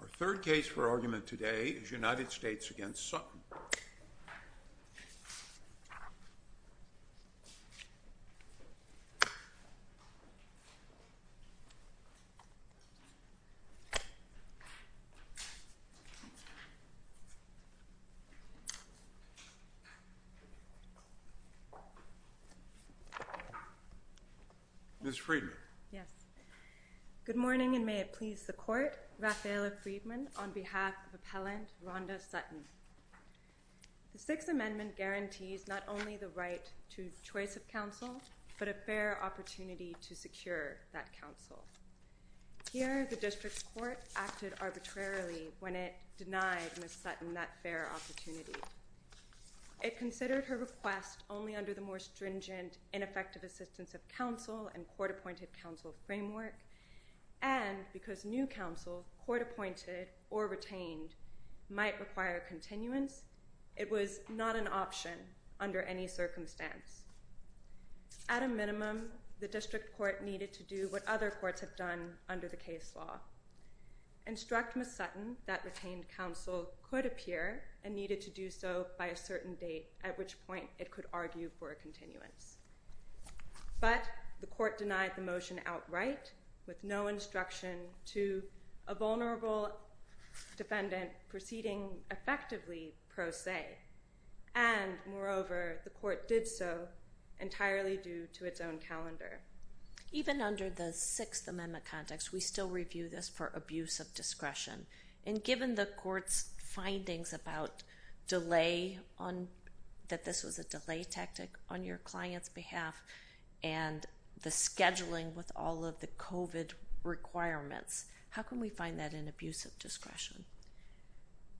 Our third case for argument today is United States v. Sutton. Ms. Friedman. Yes. Good morning and may it please the Court. Raffaella Friedman on behalf of Appellant Rhonda Sutton. The Sixth Amendment guarantees not only the right to choice of counsel, but a fair opportunity to secure that counsel. Here, the District Court acted arbitrarily when it denied Ms. Sutton that fair opportunity. It considered her request only under the more stringent, ineffective assistance of counsel and court-appointed counsel framework, and because new counsel, court-appointed or retained, might require continuance, it was not an option under any circumstance. At a minimum, the District Court needed to do what other courts have done under the case law, instruct Ms. Sutton that retained counsel could appear and needed to do so by a certain date, at which point it could argue for a continuance. But the Court denied the motion outright, with no instruction to a vulnerable defendant proceeding effectively pro se. And, moreover, the Court did so entirely due to its own calendar. Even under the Sixth Amendment context, we still review this for abuse of discretion. And given the Court's findings about delay, that this was a delay tactic on your client's behalf, and the scheduling with all of the COVID requirements, how can we find that an abuse of discretion?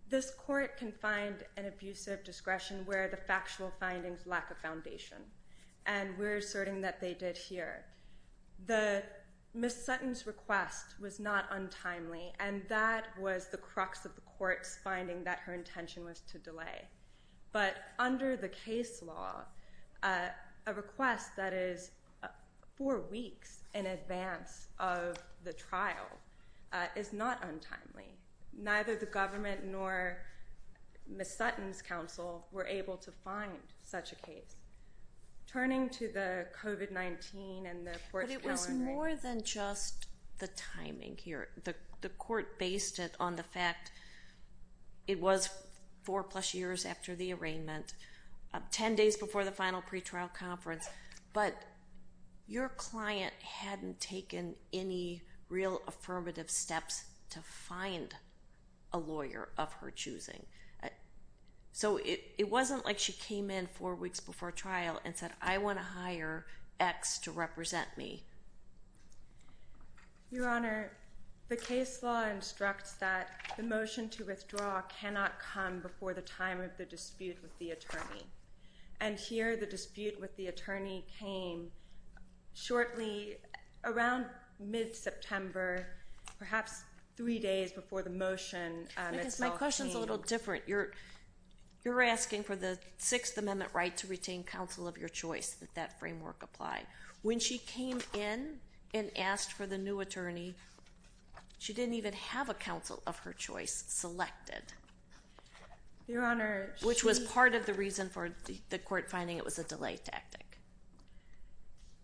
This Court can find an abuse of discretion where the factual findings lack a foundation. And we're asserting that they did here. Ms. Sutton's request was not untimely, and that was the crux of the Court's finding that her intention was to delay. But under the case law, a request that is four weeks in advance of the trial is not untimely. Neither the government nor Ms. Sutton's counsel were able to find such a case. Turning to the COVID-19 and the Court's calendar... But it was more than just the timing here. The Court based it on the fact it was four-plus years after the arraignment, ten days before the final pretrial conference. But your client hadn't taken any real affirmative steps to find a lawyer of her choosing. So it wasn't like she came in four weeks before trial and said, I want to hire X to represent me. Your Honor, the case law instructs that the motion to withdraw cannot come before the time of the dispute with the attorney. And here the dispute with the attorney came shortly around mid-September, perhaps three days before the motion itself came. My question's a little different. You're asking for the Sixth Amendment right to retain counsel of your choice, that that framework apply. When she came in and asked for the new attorney, she didn't even have a counsel of her choice selected. Your Honor, she... Which was part of the reason for the Court finding it was a delay tactic.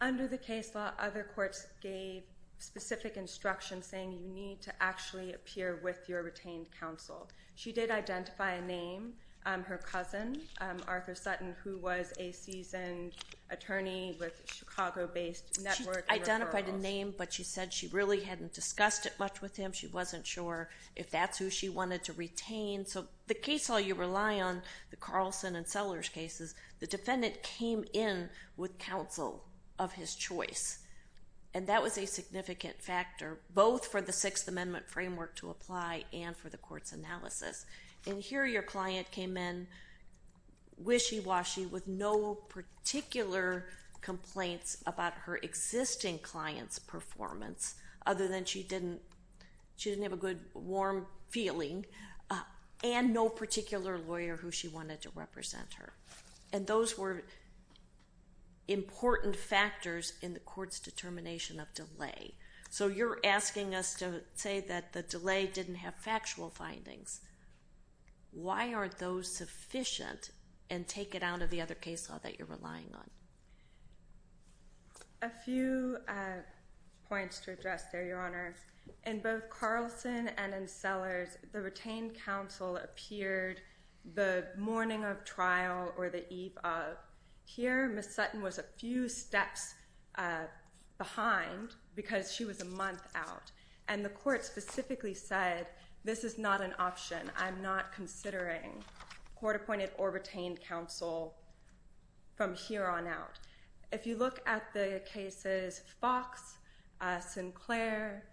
Under the case law, other courts gave specific instructions saying you need to actually appear with your retained counsel. She did identify a name, her cousin, Arthur Sutton, who was a seasoned attorney with Chicago-based network and referrals. She identified a name, but she said she really hadn't discussed it much with him. She wasn't sure if that's who she wanted to retain. So the case law you rely on, the Carlson and Sellers cases, the defendant came in with counsel of his choice. And that was a significant factor both for the Sixth Amendment framework to apply and for the Court's analysis. And here your client came in wishy-washy with no particular complaints about her existing client's performance other than she didn't have a good, warm feeling, and no particular lawyer who she wanted to represent her. And those were important factors in the Court's determination of delay. So you're asking us to say that the delay didn't have factual findings. Why aren't those sufficient and take it out of the other case law that you're relying on? A few points to address there, Your Honor. In both Carlson and in Sellers, the retained counsel appeared the morning of trial or the eve of. Here, Ms. Sutton was a few steps behind because she was a month out. And the Court specifically said this is not an option. I'm not considering court-appointed or retained counsel from here on out. If you look at the cases Fox, Sinclair,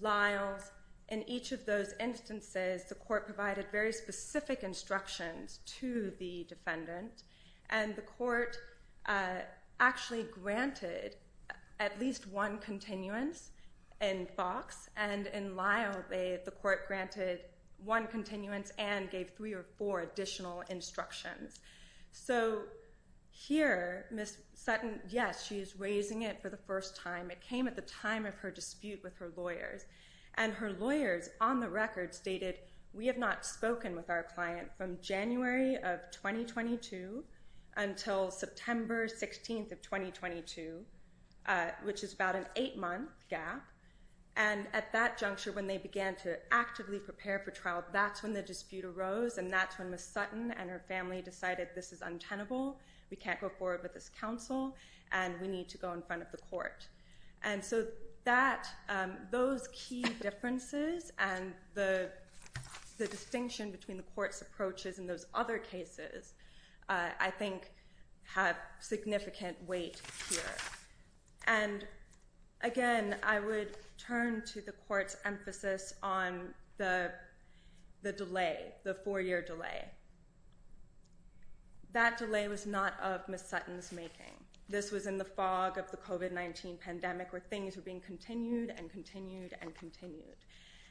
Lyles, in each of those instances, the Court provided very specific instructions to the defendant. And the Court actually granted at least one continuance in Fox. And in Lyle, the Court granted one continuance and gave three or four additional instructions. So here, Ms. Sutton, yes, she is raising it for the first time. It came at the time of her dispute with her lawyers. And her lawyers, on the record, stated we have not spoken with our client from January of 2022 until September 16th of 2022, which is about an eight-month gap. And at that juncture, when they began to actively prepare for trial, that's when the dispute arose, and that's when Ms. Sutton and her family decided this is untenable, we can't go forward with this counsel, and we need to go in front of the Court. And so those key differences and the distinction between the Court's approaches in those other cases, I think, have significant weight here. And again, I would turn to the Court's emphasis on the delay, the four-year delay. That delay was not of Ms. Sutton's making. This was in the fog of the COVID-19 pandemic, where things were being continued and continued and continued.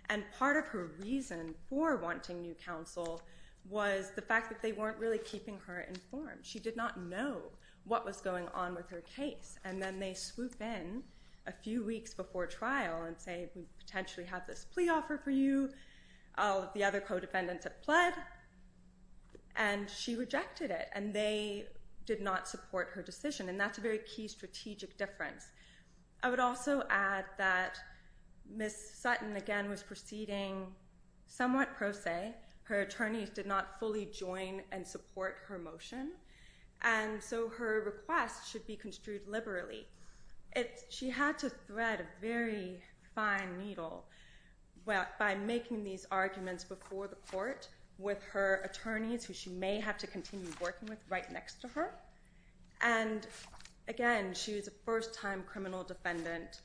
And part of her reason for wanting new counsel was the fact that they weren't really keeping her informed. She did not know what was going on with her case. And then they swoop in a few weeks before trial and say, we potentially have this plea offer for you. All of the other co-defendants have pled, and she rejected it, and they did not support her decision. And that's a very key strategic difference. I would also add that Ms. Sutton, again, was proceeding somewhat pro se. Her attorneys did not fully join and support her motion. And so her request should be construed liberally. She had to thread a very fine needle by making these arguments before the court with her attorneys, who she may have to continue working with right next to her. And again, she was a first-time criminal defendant.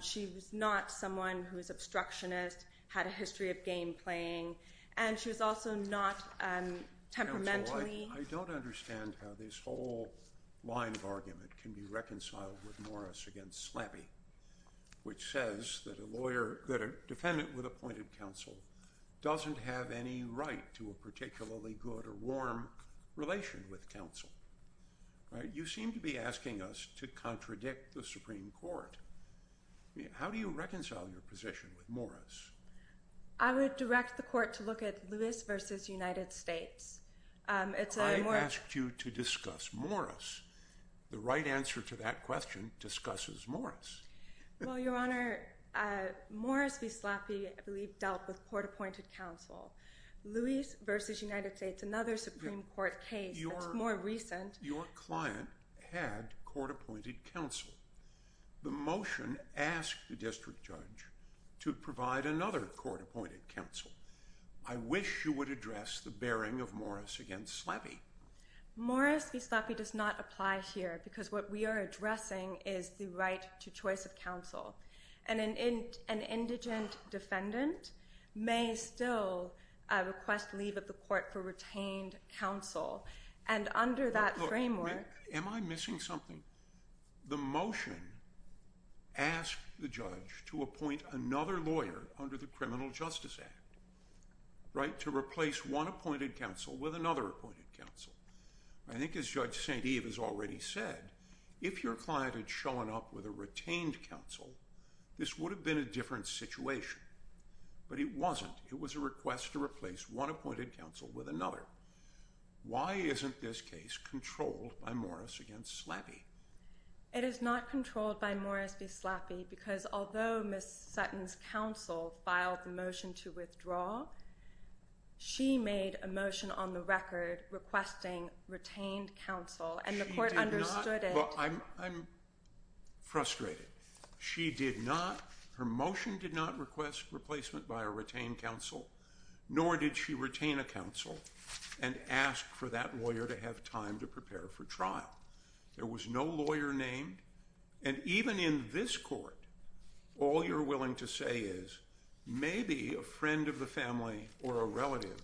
She was not someone who was obstructionist, had a history of game playing, and she was also not temperamentally. I don't understand how this whole line of argument can be reconciled with Morris against Slappy, which says that a defendant with appointed counsel doesn't have any right to a particularly good or warm relation with counsel. You seem to be asking us to contradict the Supreme Court. How do you reconcile your position with Morris? I would direct the court to look at Lewis v. United States. I asked you to discuss Morris. The right answer to that question discusses Morris. Well, Your Honor, Morris v. Slappy, I believe, dealt with court-appointed counsel. Lewis v. United States, another Supreme Court case that's more recent. Your client had court-appointed counsel. The motion asked the district judge to provide another court-appointed counsel. I wish you would address the bearing of Morris against Slappy. Morris v. Slappy does not apply here because what we are addressing is the right to choice of counsel. And an indigent defendant may still request leave of the court for retained counsel. And under that framework— Am I missing something? The motion asked the judge to appoint another lawyer under the Criminal Justice Act to replace one appointed counsel with another appointed counsel. I think as Judge St. Eve has already said, if your client had shown up with a retained counsel, this would have been a different situation. But it wasn't. It was a request to replace one appointed counsel with another. Why isn't this case controlled by Morris v. Slappy? It is not controlled by Morris v. Slappy because although Ms. Sutton's counsel filed the motion to withdraw, she made a motion on the record requesting retained counsel, and the court understood it. I'm frustrated. She did not—her motion did not request replacement by a retained counsel, nor did she retain a counsel and ask for that lawyer to have time to prepare for trial. There was no lawyer named, and even in this court, all you're willing to say is maybe a friend of the family or a relative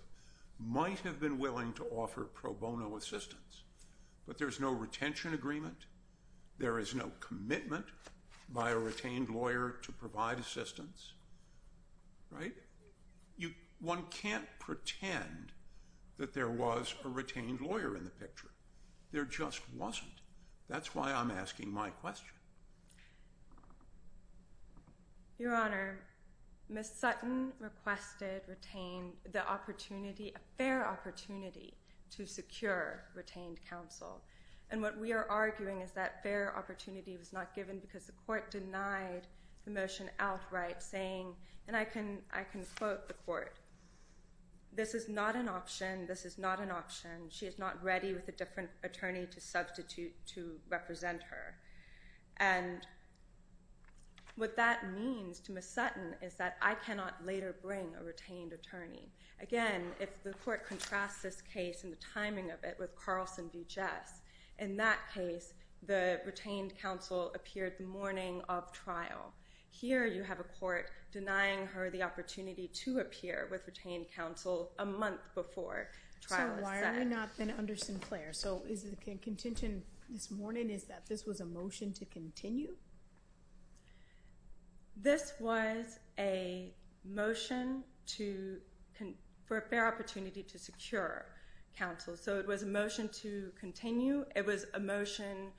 might have been willing to offer pro bono assistance. But there's no retention agreement. There is no commitment by a retained lawyer to provide assistance. Right? One can't pretend that there was a retained lawyer in the picture. There just wasn't. That's why I'm asking my question. Your Honor, Ms. Sutton requested the opportunity, a fair opportunity, to secure retained counsel. And what we are arguing is that fair opportunity was not given because the court denied the motion outright, saying, and I can quote the court, this is not an option, this is not an option. She is not ready with a different attorney to substitute to represent her. And what that means to Ms. Sutton is that I cannot later bring a retained attorney. Again, if the court contrasts this case and the timing of it with Carlson v. Jess, in that case the retained counsel appeared the morning of trial. Here you have a court denying her the opportunity to appear with retained counsel a month before trial is set. So why are we not then under Sinclair? So the contention this morning is that this was a motion to continue? This was a motion for a fair opportunity to secure counsel. So it was a motion to continue. It was a motion,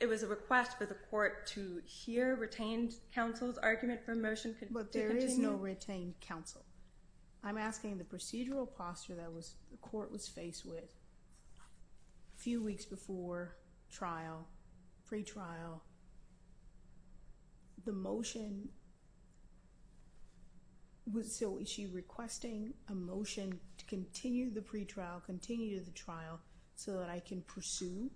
it was a request for the court to hear retained counsel's argument for a motion to continue. But there is no retained counsel. I'm asking the procedural posture that the court was faced with a few weeks before trial, pre-trial, the motion. So is she requesting a motion to continue the pre-trial, continue the trial, so that I can pursue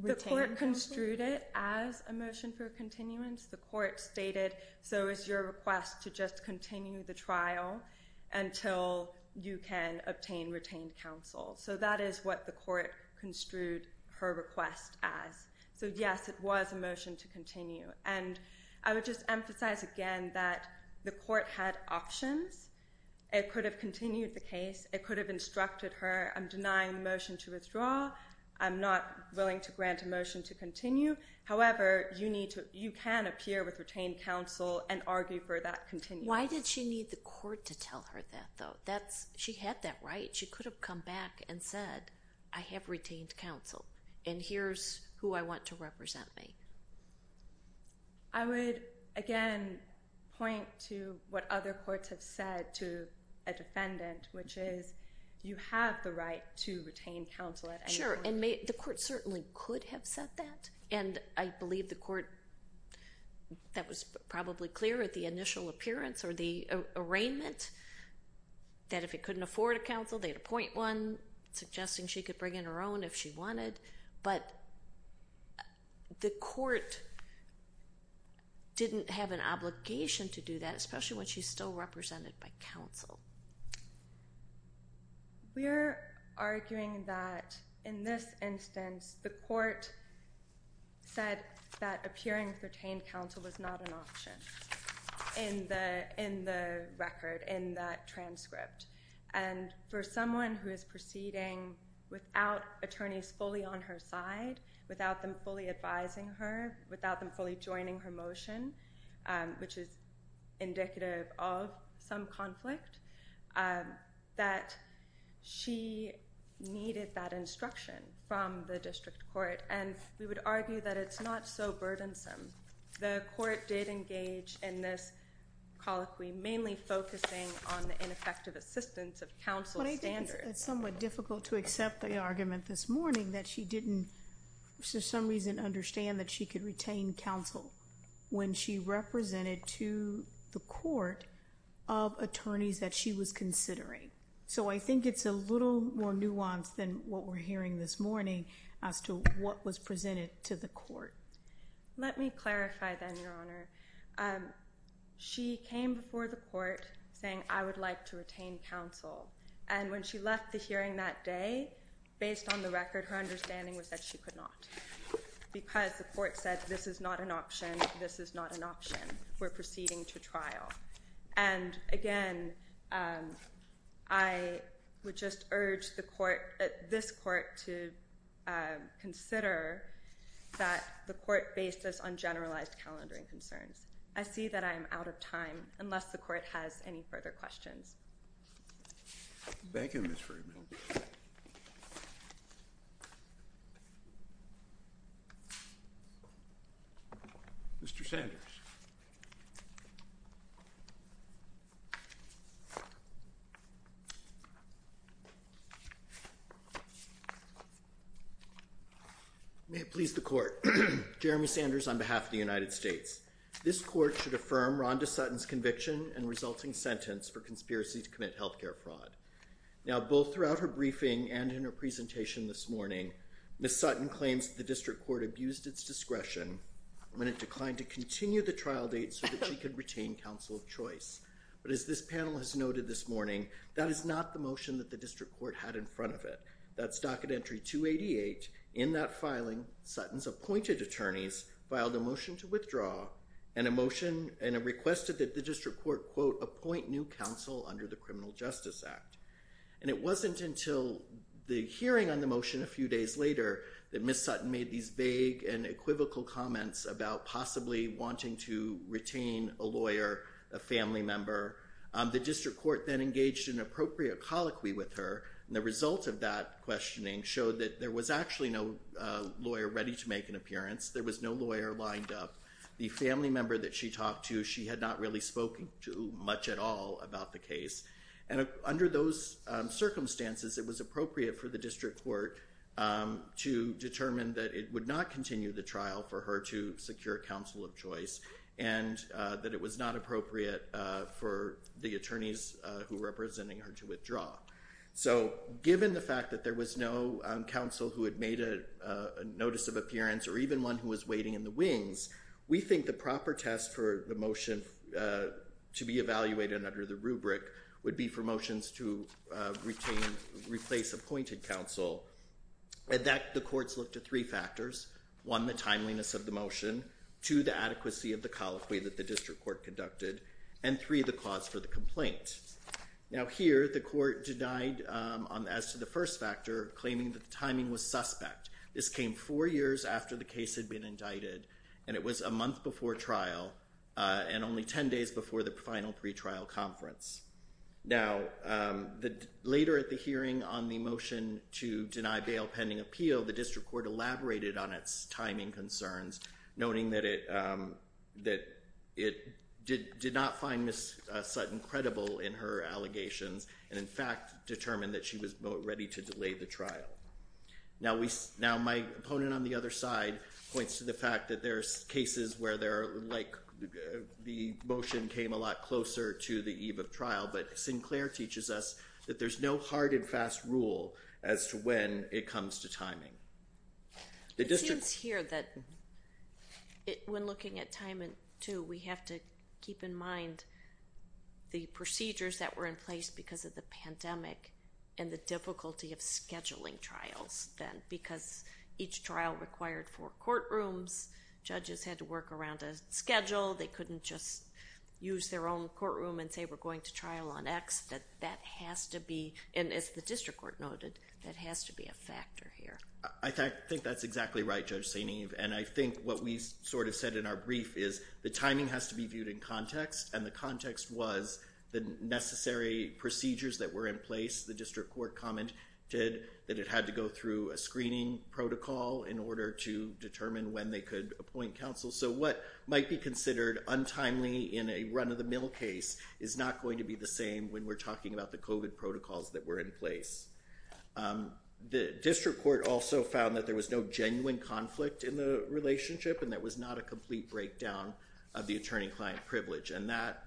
retained counsel? The court construed it as a motion for continuance. The court stated, so is your request to just continue the trial until you can obtain retained counsel? So that is what the court construed her request as. So, yes, it was a motion to continue. And I would just emphasize again that the court had options. It could have continued the case. It could have instructed her, I'm denying the motion to withdraw. I'm not willing to grant a motion to continue. However, you can appear with retained counsel and argue for that continuance. Why did she need the court to tell her that, though? She had that right. She could have come back and said, I have retained counsel, and here's who I want to represent me. I would, again, point to what other courts have said to a defendant, which is, you have the right to retain counsel at any time. Sure, and the court certainly could have said that. And I believe the court, that was probably clear at the initial appearance or the arraignment, that if it couldn't afford a counsel, they'd appoint one, suggesting she could bring in her own if she wanted. But the court didn't have an obligation to do that, especially when she's still represented by counsel. We're arguing that, in this instance, the court said that appearing with retained counsel was not an option in the record, in that transcript. And for someone who is proceeding without attorneys fully on her side, without them fully advising her, without them fully joining her motion, which is indicative of some conflict, that she needed that instruction from the district court. And we would argue that it's not so burdensome. The court did engage in this colloquy, mainly focusing on the ineffective assistance of counsel standards. It's somewhat difficult to accept the argument this morning that she didn't, for some reason, understand that she could retain counsel when she represented to the court of attorneys that she was considering. So I think it's a little more nuanced than what we're hearing this morning as to what was presented to the court. Let me clarify then, Your Honor. She came before the court saying, I would like to retain counsel. And when she left the hearing that day, based on the record, her understanding was that she could not, because the court said this is not an option, this is not an option. We're proceeding to trial. And, again, I would just urge this court to consider that the court based us on generalized calendaring concerns. I see that I am out of time, unless the court has any further questions. Thank you, Ms. Friedman. Mr. Sanders. May it please the court. Jeremy Sanders on behalf of the United States. This court should affirm Rhonda Sutton's conviction and resulting sentence for conspiracy to commit health care fraud. Now, both throughout her briefing and in her presentation this morning, Ms. Sutton claims the district court abused its discretion when it declined to continue the trial date so that she could retain counsel of choice. But as this panel has noted this morning, that is not the motion that the district court had in front of it. That's docket entry 288. In that filing, Sutton's appointed attorneys filed a motion to withdraw and a motion and requested that the district court, quote, appoint new counsel under the Criminal Justice Act. And it wasn't until the hearing on the motion a few days later that Ms. Sutton made these vague and equivocal comments about possibly wanting to retain a lawyer, a family member. The district court then engaged in an appropriate colloquy with her. And the result of that questioning showed that there was actually no lawyer ready to make an appearance. There was no lawyer lined up. The family member that she talked to, she had not really spoken to much at all about the case. And under those circumstances, it was appropriate for the district court to determine that it would not continue the trial for her to secure counsel of choice and that it was not appropriate for the attorneys who were representing her to withdraw. So given the fact that there was no counsel who had made a notice of appearance or even one who was waiting in the wings, we think the proper test for the motion to be evaluated under the rubric would be for motions to retain, replace appointed counsel. And that the courts looked at three factors. One, the timeliness of the motion. Two, the adequacy of the colloquy that the district court conducted. And three, the cause for the complaint. Now here, the court denied, as to the first factor, claiming that the timing was suspect. This came four years after the case had been indicted. And it was a month before trial and only 10 days before the final pretrial conference. Now, later at the hearing on the motion to deny bail pending appeal, the district court elaborated on its timing concerns, noting that it did not find Ms. Sutton credible in her allegations and, in fact, determined that she was ready to delay the trial. Now my opponent on the other side points to the fact that there's cases where the motion came a lot closer to the eve of trial, but Sinclair teaches us that there's no hard and fast rule as to when it comes to timing. It seems here that when looking at timing, too, we have to keep in mind the procedures that were in place because of the pandemic and the difficulty of scheduling trials then because each trial required four courtrooms. Judges had to work around a schedule. They couldn't just use their own courtroom and say we're going to trial on X. That has to be, and as the district court noted, that has to be a factor here. I think that's exactly right, Judge St. Eve, and I think what we sort of said in our brief is the timing has to be viewed in context and the context was the necessary procedures that were in place. The district court commented that it had to go through a screening protocol in order to determine when they could appoint counsel. So what might be considered untimely in a run-of-the-mill case is not going to be the same when we're talking about the COVID protocols that were in place. The district court also found that there was no genuine conflict in the relationship and that was not a complete breakdown of the attorney-client privilege, and that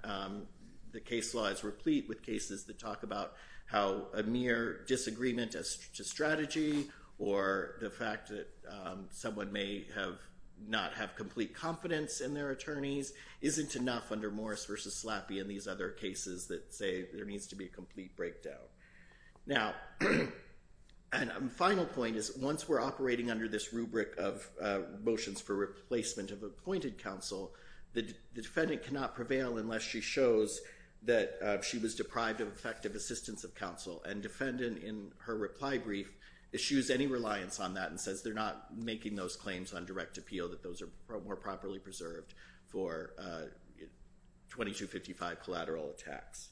the case law is replete with cases that talk about how a mere disagreement as to strategy or the fact that someone may not have complete confidence in their attorneys isn't enough under Morris v. Slappy and these other cases that say there needs to be a complete breakdown. Now, a final point is once we're operating under this rubric of motions for replacement of appointed counsel, the defendant cannot prevail unless she shows that she was deprived of effective assistance of counsel and defendant in her reply brief issues any reliance on that and says they're not making those claims on direct appeal, that those are more properly preserved for 2255 collateral attacks.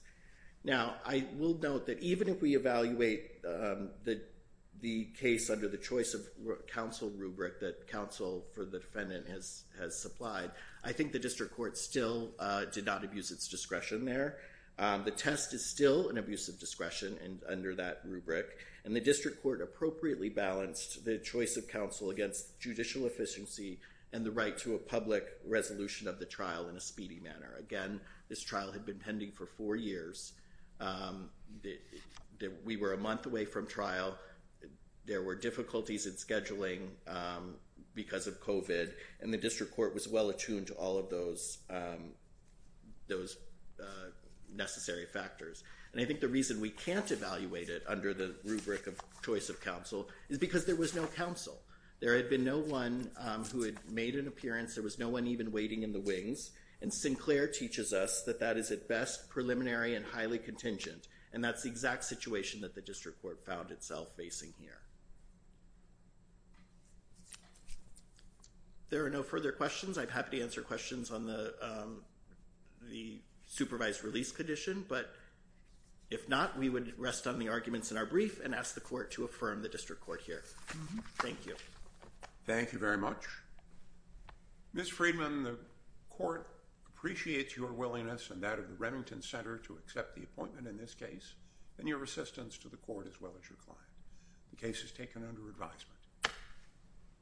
Now, I will note that even if we evaluate the case under the choice of counsel rubric that counsel for the defendant has supplied, I think the district court still did not abuse its discretion there. The test is still an abuse of discretion under that rubric, and the district court appropriately balanced the choice of counsel against judicial efficiency and the right to a public resolution of the trial in a speedy manner. Again, this trial had been pending for four years. We were a month away from trial. There were difficulties in scheduling because of COVID, and the district court was well attuned to all of those necessary factors. And I think the reason we can't evaluate it under the rubric of choice of counsel is because there was no counsel. There had been no one who had made an appearance. There was no one even waiting in the wings. And Sinclair teaches us that that is at best preliminary and highly contingent, and that's the exact situation that the district court found itself facing here. There are no further questions. I'm happy to answer questions on the supervised release condition, but if not, we would rest on the arguments in our brief and ask the court to affirm the district court here. Thank you. Thank you very much. Ms. Friedman, the court appreciates your willingness and that of the Remington Center to accept the appointment in this case and your assistance to the court as well as your client. The case is taken under advisement.